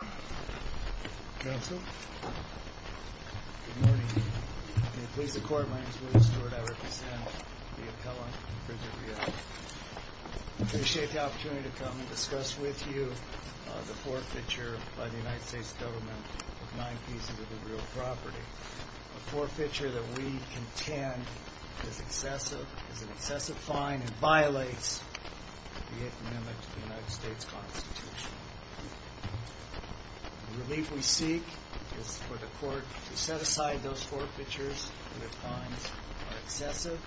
I appreciate the opportunity to come and discuss with you the forfeiture by the United States government of nine pieces of the real property. A forfeiture that we contend is an excessive fine and violates the Eighth Amendment to the United States Constitution. The relief we seek is for the court to set aside those forfeitures where the fines are excessive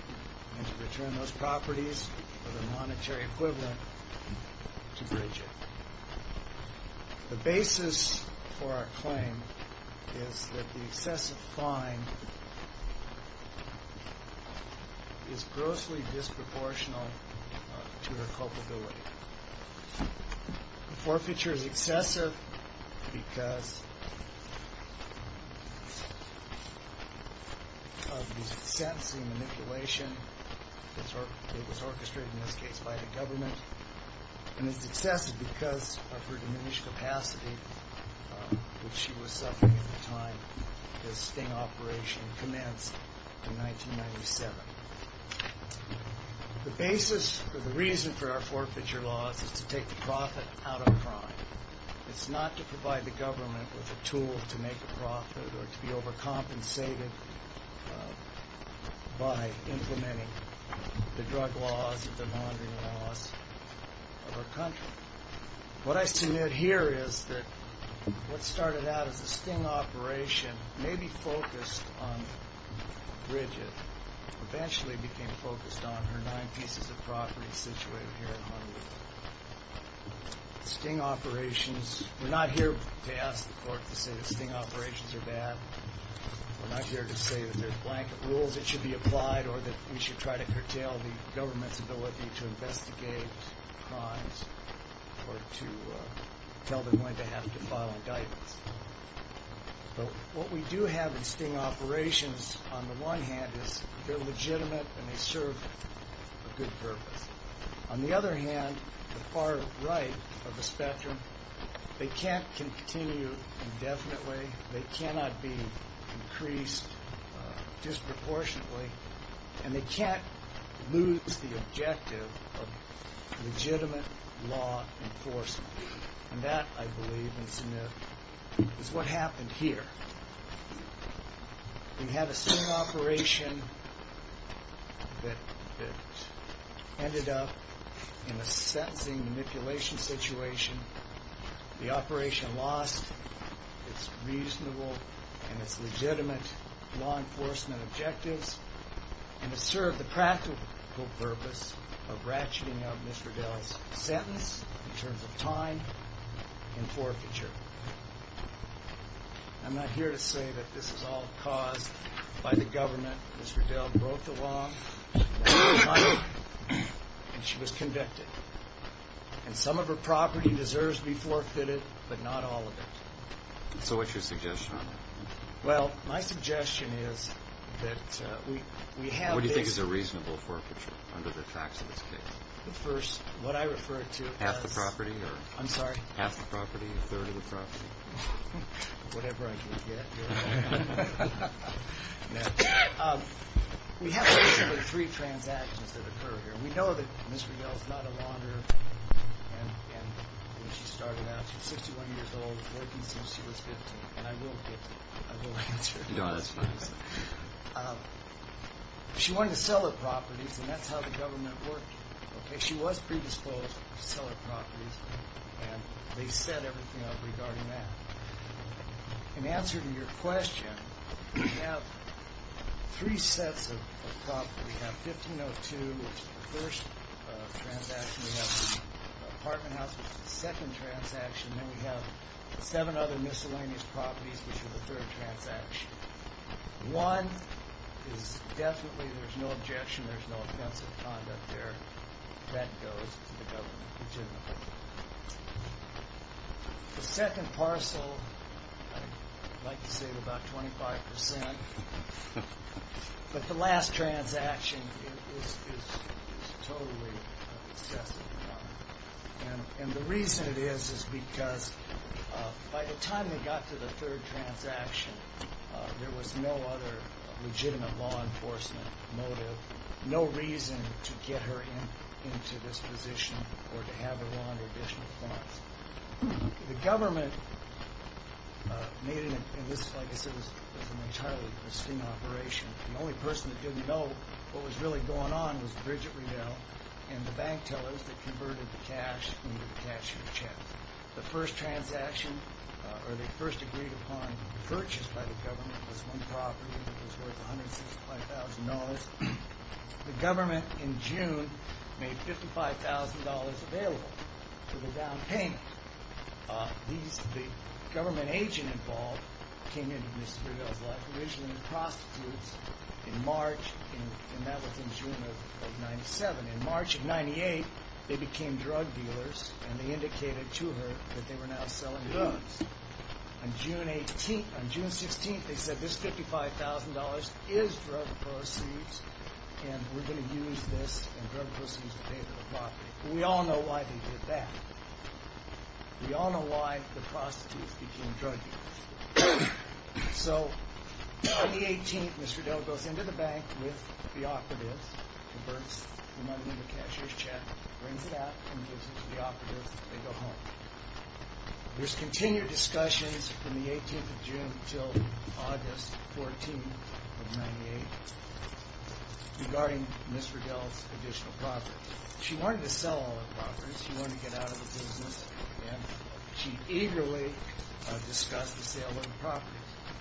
and to return those properties for the monetary equivalent to bridge it. The basis for our case is that the fine is disproportionate to her culpability. The forfeiture is excessive because of the sentencing manipulation that was orchestrated in this case by the government and is excessive because of her diminished capacity which she was suffering at the time of this sting operation commenced in 1997. The reason for our forfeiture laws is to take the profit out of crime. It's not to provide the government with a tool to make a profit or to be overcompensated by implementing the drug laws or the laundering laws of our country. What I submit here is that what started out as a sting operation may be focused on Bridget eventually became focused on her nine pieces of property situated here in Honolulu. Sting operations, we're not here to ask the court to say that sting operations are bad. We're not here to say that there's blanket rules that should be applied or that we should try to curtail the government's ability to investigate crimes or to tell them when to have to file indictments. But what we do have in sting operations on the one hand is they're legitimate and they serve a good purpose. On the other hand, the far right of the spectrum, they can't continue indefinitely, they cannot be increased disproportionately, and they can't lose the objective of legitimate law enforcement. And that, I believe, is what happened here. We had a sting operation that ended up in a sentencing manipulation situation. The operation lost its reasonable and its legitimate law enforcement objectives and it served the practical purpose of ratcheting up Ms. Riddell's sentence in terms of time and forfeiture. I'm not here to say that this is all caused by the government. Ms. Riddell broke the law and she was convicted. And some of her property deserves to be forfeited, but not all of it. So what's your suggestion on that? Well, my suggestion is that we have this... What do you think is a reasonable forfeiture under the facts of this case? The first, what I refer to as... Half the property or... I'm sorry? Half the property, a third of the property. Whatever I can get. We have basically three transactions that occur here. We know that Ms. Riddell's not a launderer and when she started out, she's 61 years old, working since she was 15. And I will get to it. I will answer it. No, that's fine. She wanted to sell her properties and that's how the government worked. She was predisposed to sell her properties and they set everything up regarding that. In answer to your question, we have three sets of property. We have 1502, which is the first transaction. We have the apartment house, which is the second transaction. Then we have seven other miscellaneous properties, which are the third transaction. One is definitely, there's no objection, there's no offensive conduct there. That goes to the government legitimately. The second parcel, I'd like to say about 25%, but the last transaction is totally excessive. And the reason it is is because by the time they got to the third transaction, there was no other legitimate law enforcement motive, no reason to get her into this position or to have her launder additional funds. The government made it, like I said, an entirely pristine operation. The only person that didn't know what was really going on was Bridget Riddell and the bank tellers that converted the cash into the cashier checks. The first transaction or the first agreed upon purchase by the government was one property that was worth $165,000. The government in June made $55,000 available for the down payment. The government agent involved came into Mrs. Riddell's life, originally prostitutes, in March and that was in June of 97. In March of 98, they became drug dealers and they indicated to her that they were now selling drugs. On June 16, they said this $55,000 is drug proceeds and we're going to use this and drug proceeds to pay for the property. We all know why they did that. We all know why the prostitutes became drug dealers. So on the 18th, Mr. Riddell goes into the bank with the operatives, converts them under the cashier's check, brings it out and gives it to the operatives. They go home. There's continued discussions from the 18th of June until August 14 of 98 regarding Mrs. Riddell's additional property. She wanted to sell all the properties. She wanted to get out of the business and she eagerly discussed the sale of the properties.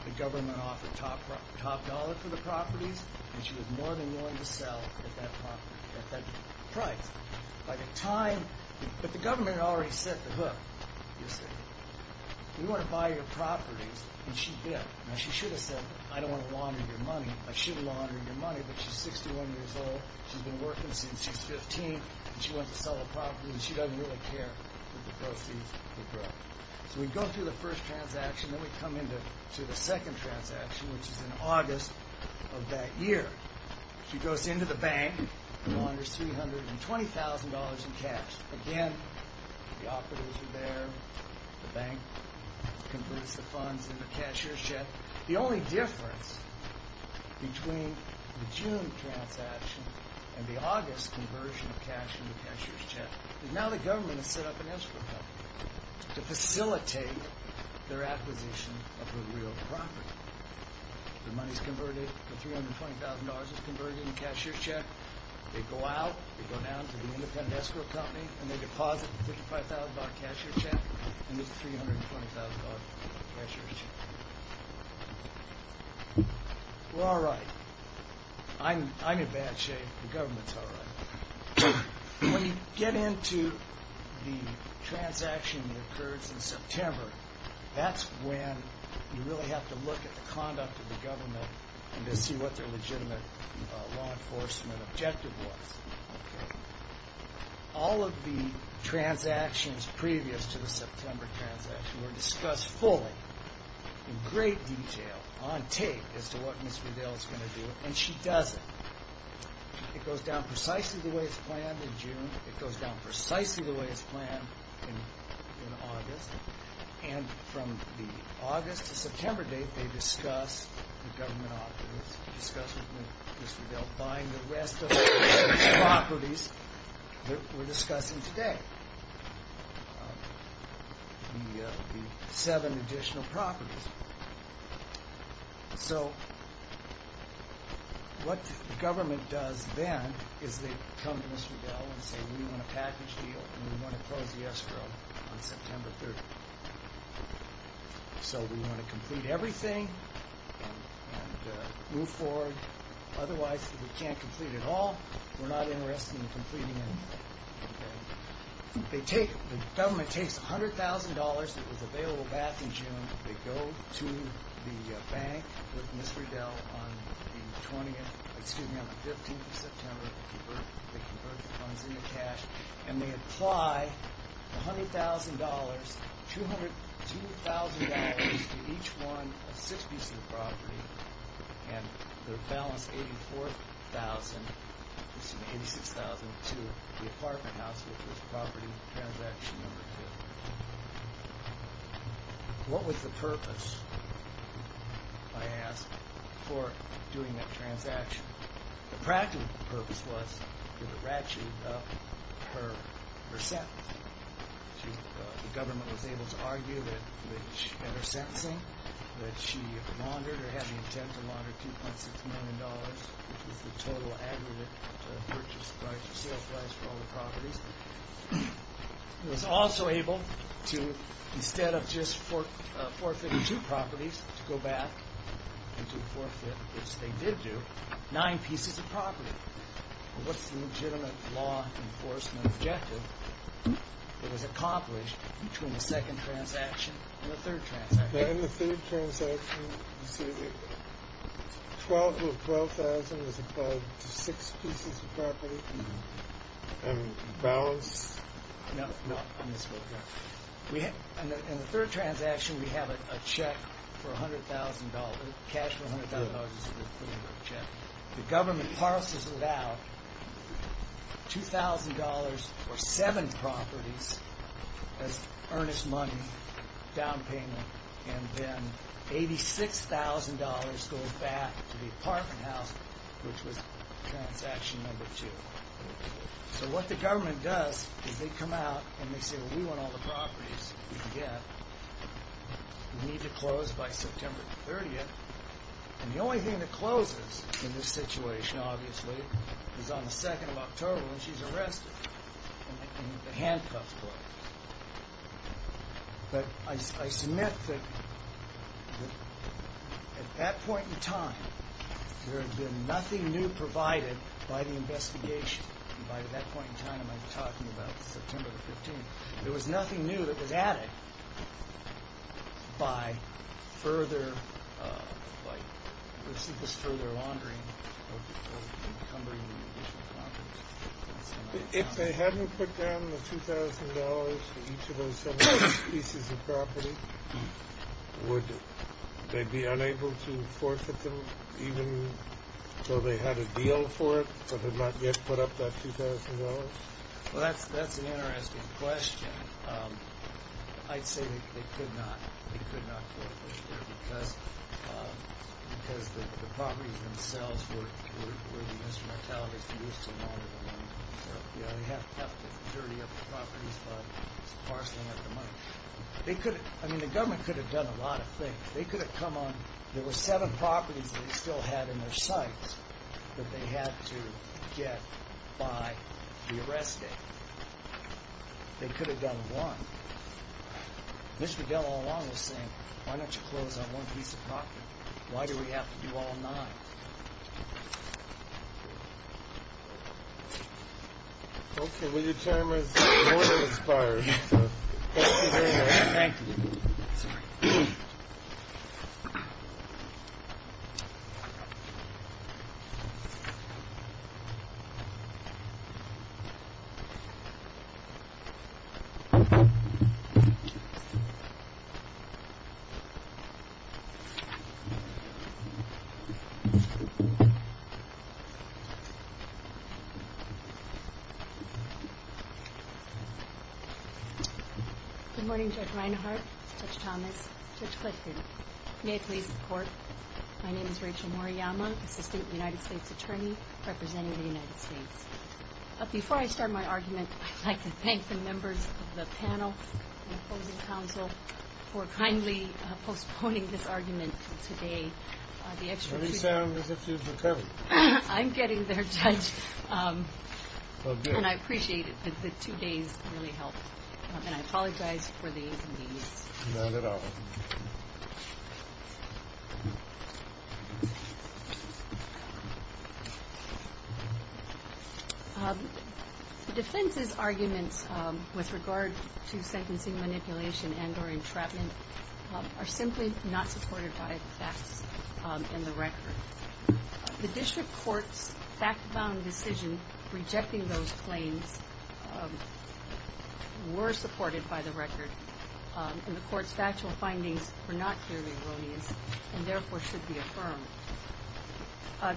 The government offered top dollar for the time, but the government had already set the hook. We want to buy your properties and she bit. Now she should have said, I don't want to launder your money. I should have laundered your money, but she's 61 years old. She's been working since she's 15 and she wants to sell the properties. She doesn't really care that the proceeds will grow. So we go through the first transaction, then we come into the second transaction, which is in August of that year. She goes into the bank and launders $320,000 in cash. Again, the operatives are there, the bank converts the funds in the cashier's check. The only difference between the June transaction and the August conversion of cash in the cashier's check is now the government has set up an escrow company to facilitate their acquisition of her real property. The money's converted, the $320,000 is converted in the cashier's check. They go out, they go down to the independent escrow company and they deposit the $55,000 cashier's check and there's the $320,000 cashier's check. We're all right. I'm in bad shape. The government's all right. When you get into the transaction that occurs in September, that's when you really have to look at the conduct of the government to see what their legitimate law enforcement objective was. All of the transactions previous to the September transaction were discussed fully in great detail on tape as to what Ms. Riddell is going to do and she does it. It goes down precisely the way it's planned in June. It goes down precisely the way it's planned in August. And from the August to September date, they discuss the government objectives, discuss with Ms. Riddell buying the rest of the properties that we're discussing today, the seven additional properties. So what the government does then is they come to Ms. Riddell and say we want a package deal and we want to close the escrow on September 30th. So we want to complete everything and move forward. Otherwise, if we can't complete it all, we're not interested in completing anything. The government takes $100,000 that they converted into cash and they apply $100,000, $202,000 to each one of six pieces of property and they're balanced $84,000, excuse me, $86,000 to the apartment house which was property transaction number two. What was the purpose, I ask, for doing that transaction? The practical purpose was to ratchet up her sentence. The government was able to argue that she had her sentencing, that she laundered or had the intent to launder $2.6 million, which was the total aggregate purchase price or sales price for all the properties. It was also able to, instead of just forfeiting two properties, to go back and to forfeit, which was the legitimate law enforcement objective that was accomplished between the second transaction and the third transaction. In the third transaction, excuse me, $12,000 was applied to six pieces of property and balance? No, no. In the third transaction, we have a check for $100,000. Cash for $100,000 is included in that check. The government parcels out $2,000 for seven properties as earnest money, down payment, and then $86,000 goes back to the apartment house, which was transaction number two. So what the government does is they come out and they say, well, we want all the properties we can get. We need to close by September the 30th. And the only thing that closes in this situation, obviously, is on the 2nd of October when she's arrested, and the handcuffs close. But I submit that at that point in time, there had been nothing new provided by the investigation. And by that point in time, I'm talking about September the 15th. There was nothing new that was added by this further laundering or encumbering the additional properties. If they hadn't put down the $2,000 for each of those seven pieces of property, would they be unable to forfeit them even though they had a deal for it, so they might get put up with that $2,000? Well, that's an interesting question. I'd say they could not. They could not forfeit it because the properties themselves were the instrumentality to use to launder the money. They have to have the majority of the properties, but it's the parceling of the money. I mean, the government could have done a lot of things. They could have come on. There were seven properties that they still had in their sights that they had to get by the arrest date. They could have done one. Mr. Dell all along was saying, why don't you close on one piece of property? Why do we have to do all nine? Okay. Well, your time is more than expired. Thank you. Good morning, Judge Reinhart, Judge Thomas, Judge Clifton. May it please the Court, my name is Rachel Moriyama, Assistant United States Attorney representing the United States. Before I start my argument, I'd like to thank the members of the panel and opposing counsel for kindly postponing this argument today. You sound as if you've recovered. I'm getting there, Judge. And I appreciate that the two days really helped. And I apologize for the inconvenience. Not at all. The defense's arguments with regard to sentencing manipulation and or entrapment are simply not supported by the facts and the record. The district court's fact-bound decision rejecting those claims were supported by the record. And the court's factual findings were not clearly erroneous and therefore should be affirmed.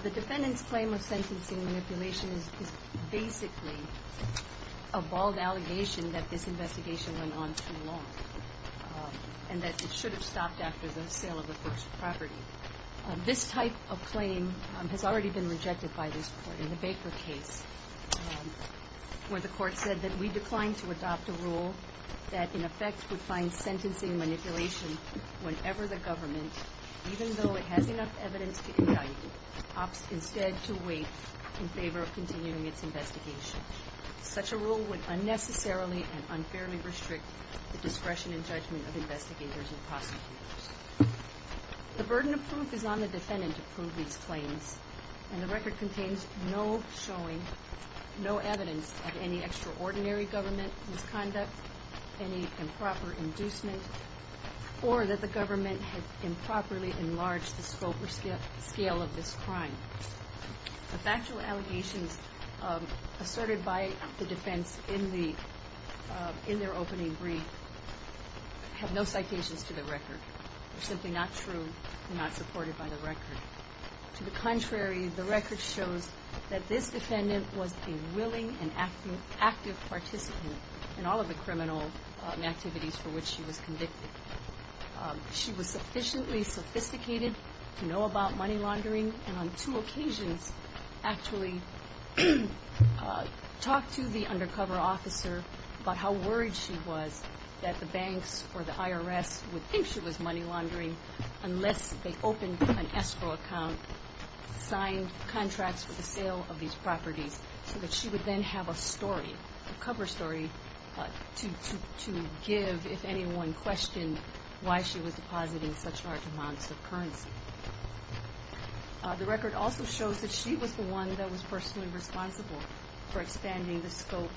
The defendant's claim of sentencing manipulation is basically a bald allegation that this investigation went on too long and that it should have stopped after the sale of the first property. This type of claim has already been rejected by this court. In the Baker case, where the court said that we declined to adopt a rule that in effect would find sentencing manipulation whenever the government, even though it has enough evidence to indict it, opts instead to wait in favor of continuing its investigation. Such a rule would unnecessarily and unfairly restrict the discretion and judgment of investigators and prosecutors. The burden of proof is on the defendant to prove these claims. And the record contains no showing, no evidence of any extraordinary government misconduct, any improper inducement, or that the government had improperly enlarged the scope or scale of this crime. The factual allegations asserted by the defense in their opening brief have no citations to the record. They're simply not true and not supported by the record. To the contrary, the record shows that this defendant was a willing and active participant in all of the criminal activities for which she was convicted. She was sufficiently sophisticated to know about money laundering and on two occasions actually talked to the undercover officer about how worried she was that the banks or the IRS would think she was money laundering unless they opened an escrow account, signed contracts for the sale of these properties so that she would then have a story, a cover story, to give if anyone questioned why she was depositing such large amounts of currency. The record also shows that she was the one that was personally responsible for expanding the scope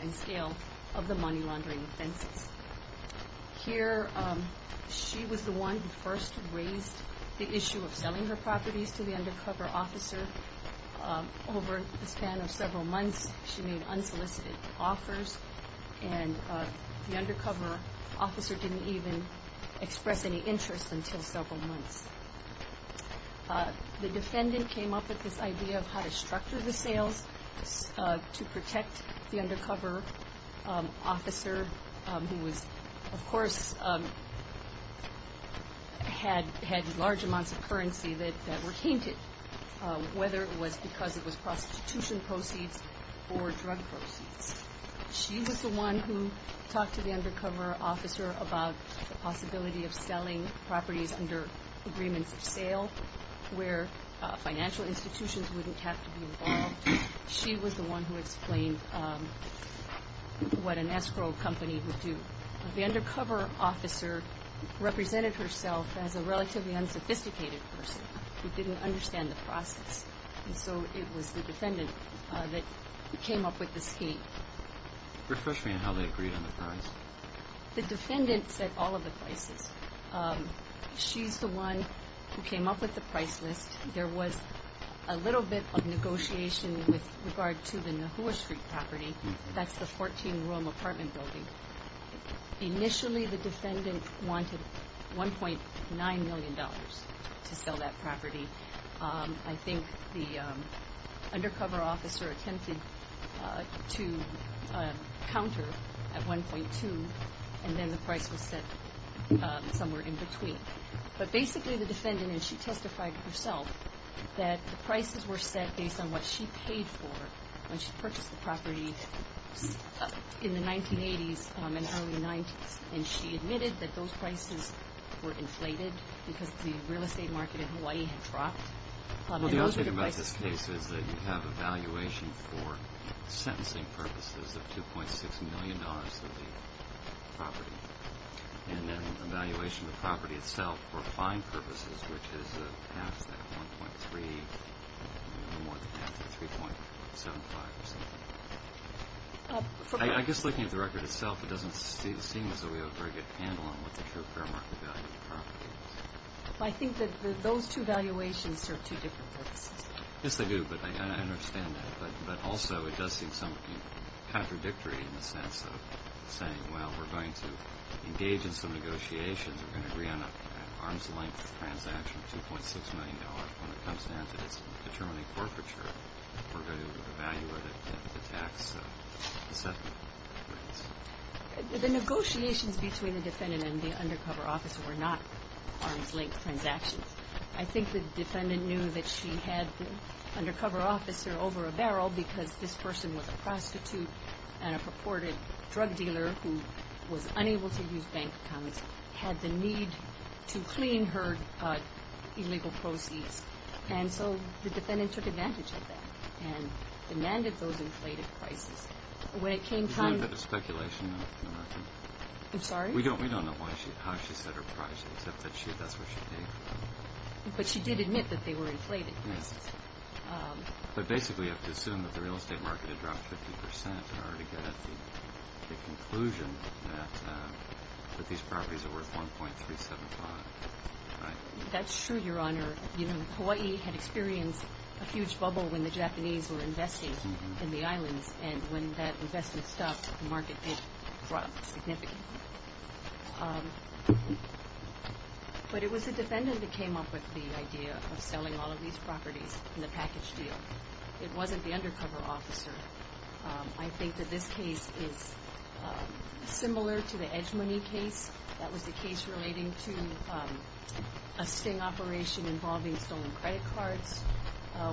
and scale of the money laundering offenses. Here, she was the one who first raised the issue of selling her properties to the undercover officer. Over the span of several months. The defendant came up with this idea of how to structure the sales to protect the undercover officer who was, of course, had large amounts of currency that were tainted, whether it was because it was prostitution proceeds or drug proceeds. She was the one who talked to the undercover officer about the possibility of selling properties under agreements of sale where financial institutions wouldn't have to be involved. She was the one who explained what an escrow company would do. The undercover officer represented herself as a relatively unsophisticated person who didn't understand the process and so it was the defendant that came up with the scheme. Refresh me on how they agreed on the price. The defendant set all of the prices. She's the one who came up with the price list. There was a little bit of negotiation with regard to the Nahua Street property. That's the 14 room apartment building. Initially, the defendant wanted $1.9 million to sell that property. I think the undercover officer attempted to counter at 1.2 and then the price was set somewhere in between. But basically the defendant, and she testified herself, that the prices were set based on what she paid for when she purchased the property in the 1980s and early The other thing about this case is that you have a valuation for sentencing purposes of $2.6 million of the property and then the valuation of the property itself for fine purposes which is more than half of 3.75 or something. I guess looking at the record itself it doesn't seem as though we have a very good handle on what the true fair market value of the property is. I think that those two valuations serve two different purposes. Yes, they do, but I understand that. But also it does seem somewhat contradictory in the sense of saying, well, we're going to engage in some negotiations. We're going to agree on an arm's length transaction of $2.6 million. When it comes down to determining forfeiture, we're going to evaluate it at the tax settlement rates. The negotiations between the defendant and the undercover officer were not arm's length transactions. I think the defendant knew that she had the undercover officer over a barrel because this person was a prostitute and a purported drug dealer who was unable to use bank accounts, had the need to clean her illegal proceeds. And so the defendant took advantage of that and demanded those inflated prices. Is there a bit of speculation? I'm sorry? We don't know how she set her prices, except that that's what she paid for. But she did admit that they were inflated prices. But basically you have to assume that the real estate market had dropped 50% in order to get at the conclusion that these properties are worth $1.375. That's true, Your Honor. Hawaii had experienced a huge bubble when the Japanese were investing in the islands. And when that investment stopped, the market did drop significantly. But it was the defendant that came up with the idea of selling all of these properties in the package deal. It wasn't the undercover officer. I think that this case is similar to the Edgemony case. That was the case relating to a sting operation involving stolen credit cards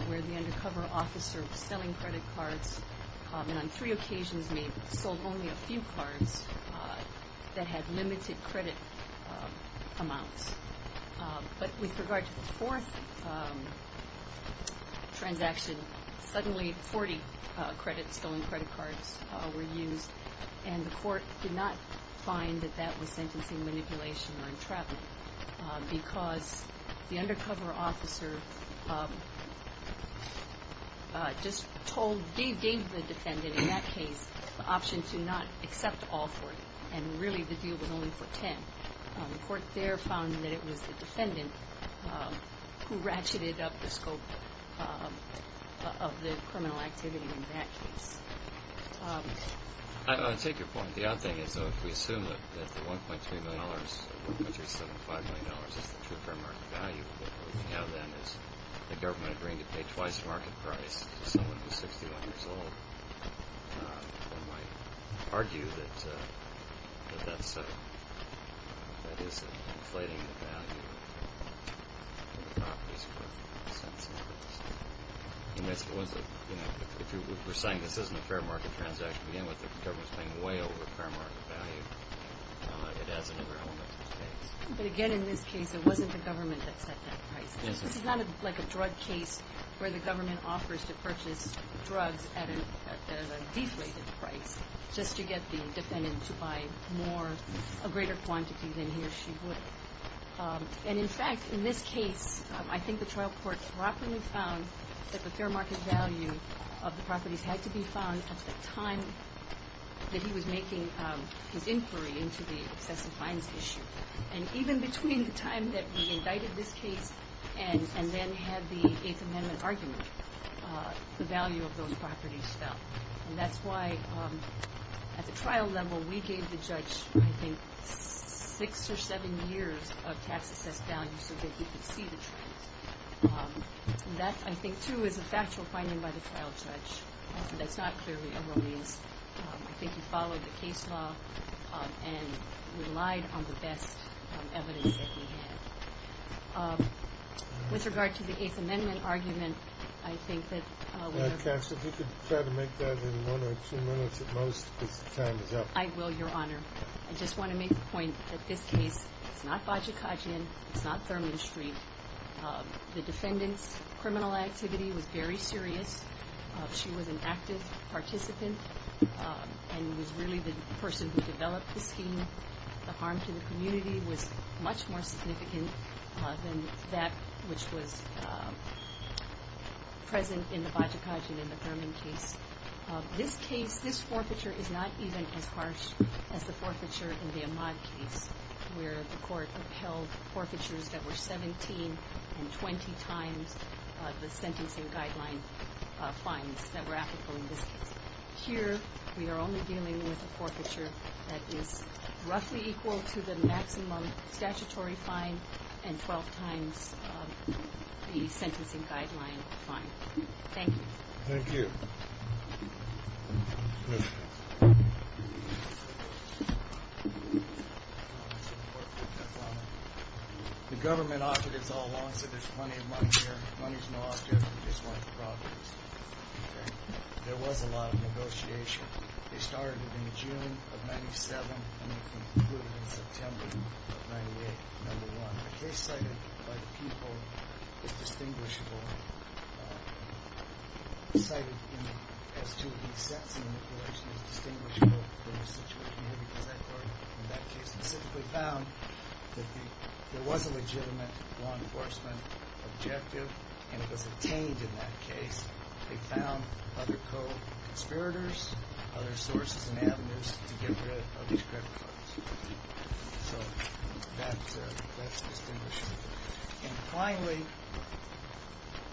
where the undercover officer was selling credit cards and on three occasions may have sold only a few cards that had limited credit amounts. But with regard to the fourth transaction, suddenly 40 stolen credit cards were used and the court did not find that that was sentencing manipulation or entrapment because the undercover officer just told, gave the defendant in that case the option to not accept all 40 and really the deal was only for 10. The court there found that it was the defendant who ratcheted up the scope of the criminal activity in that case. I take your point. The odd thing is if we assume that the $1.3 million or $1.375 million is the true fair market value, what we have then is the government agreeing to pay twice the market price to someone who is 61 years old. One might argue that that is inflating the value of the properties worth $0.05. If we're saying this isn't a fair market transaction, we end with the government paying way over fair market value. It adds another element to the case. But again in this case it wasn't the government that set that price. This is not like a drug case where the government offers to purchase drugs at a deflated price just to get the defendant to buy more, a greater quantity than he or she would. And in fact in this case I think the trial court properly found that the fair market value of the properties had to be found at the time that he was making his inquiry into the excessive fines issue. And even between the time that we indicted this case and then had the Eighth Amendment argument, the value of those properties fell. And that's why at the trial level we gave the judge I think six or seven years of tax assessed values so that he could see the trends. And that I think too is a factual finding by the trial judge. That's not clearly a release. I think he followed the case law and relied on the best evidence that he had. With regard to the Eighth Amendment argument, I think that... Now Cass, if you could try to make that in one or two minutes at most because the time is up. I will, Your Honor. I just want to make the point that this case is not Bajikajian, it's not Thurman Street. The defendant's criminal activity was very serious. She was an active participant and was really the which was present in the Bajikajian and the Thurman case. This case, this forfeiture is not even as harsh as the forfeiture in the Ahmaud case where the court upheld forfeitures that were 17 and 20 times the sentencing guideline fines that were applicable in this case. Here we are only dealing with a forfeiture that is roughly equal to the maximum statutory fine and 12 times the sentencing guideline fine. Thank you. Thank you. The government opted it all along, said there's plenty of money here. Money's no object, it's just one of the properties. There was a lot of negotiation. It started in June of 97 and it concluded in September of 98, number one. The case cited by the people is distinguishable. Cited as to the sentencing information is distinguishable from the rest of the community because that court in that case specifically found that there was a legitimate law enforcement objective and it was obtained in that case. They found other co-conspirators, other sources and avenues to get rid of these credit cards. So that's distinguishable. And finally,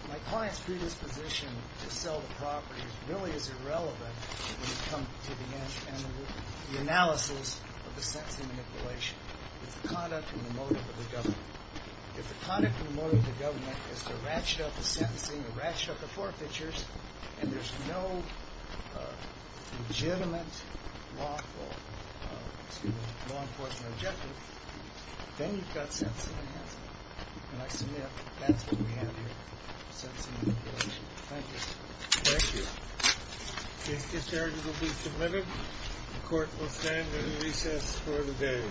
my client's predisposition to sell the property really is irrelevant when you come to the end and the analysis of the sentencing manipulation. It's the conduct and the motive of the government. If the conduct and the motive of the government is to ratchet up the sentencing, to ratchet up the forfeitures and there's no legitimate law enforcement objective, then you've got sentencing enhancement. And I submit that's what we have here, sentencing manipulation. Thank you. Thank you. These charges will be submitted. The court will stand in recess for the day. Thank you.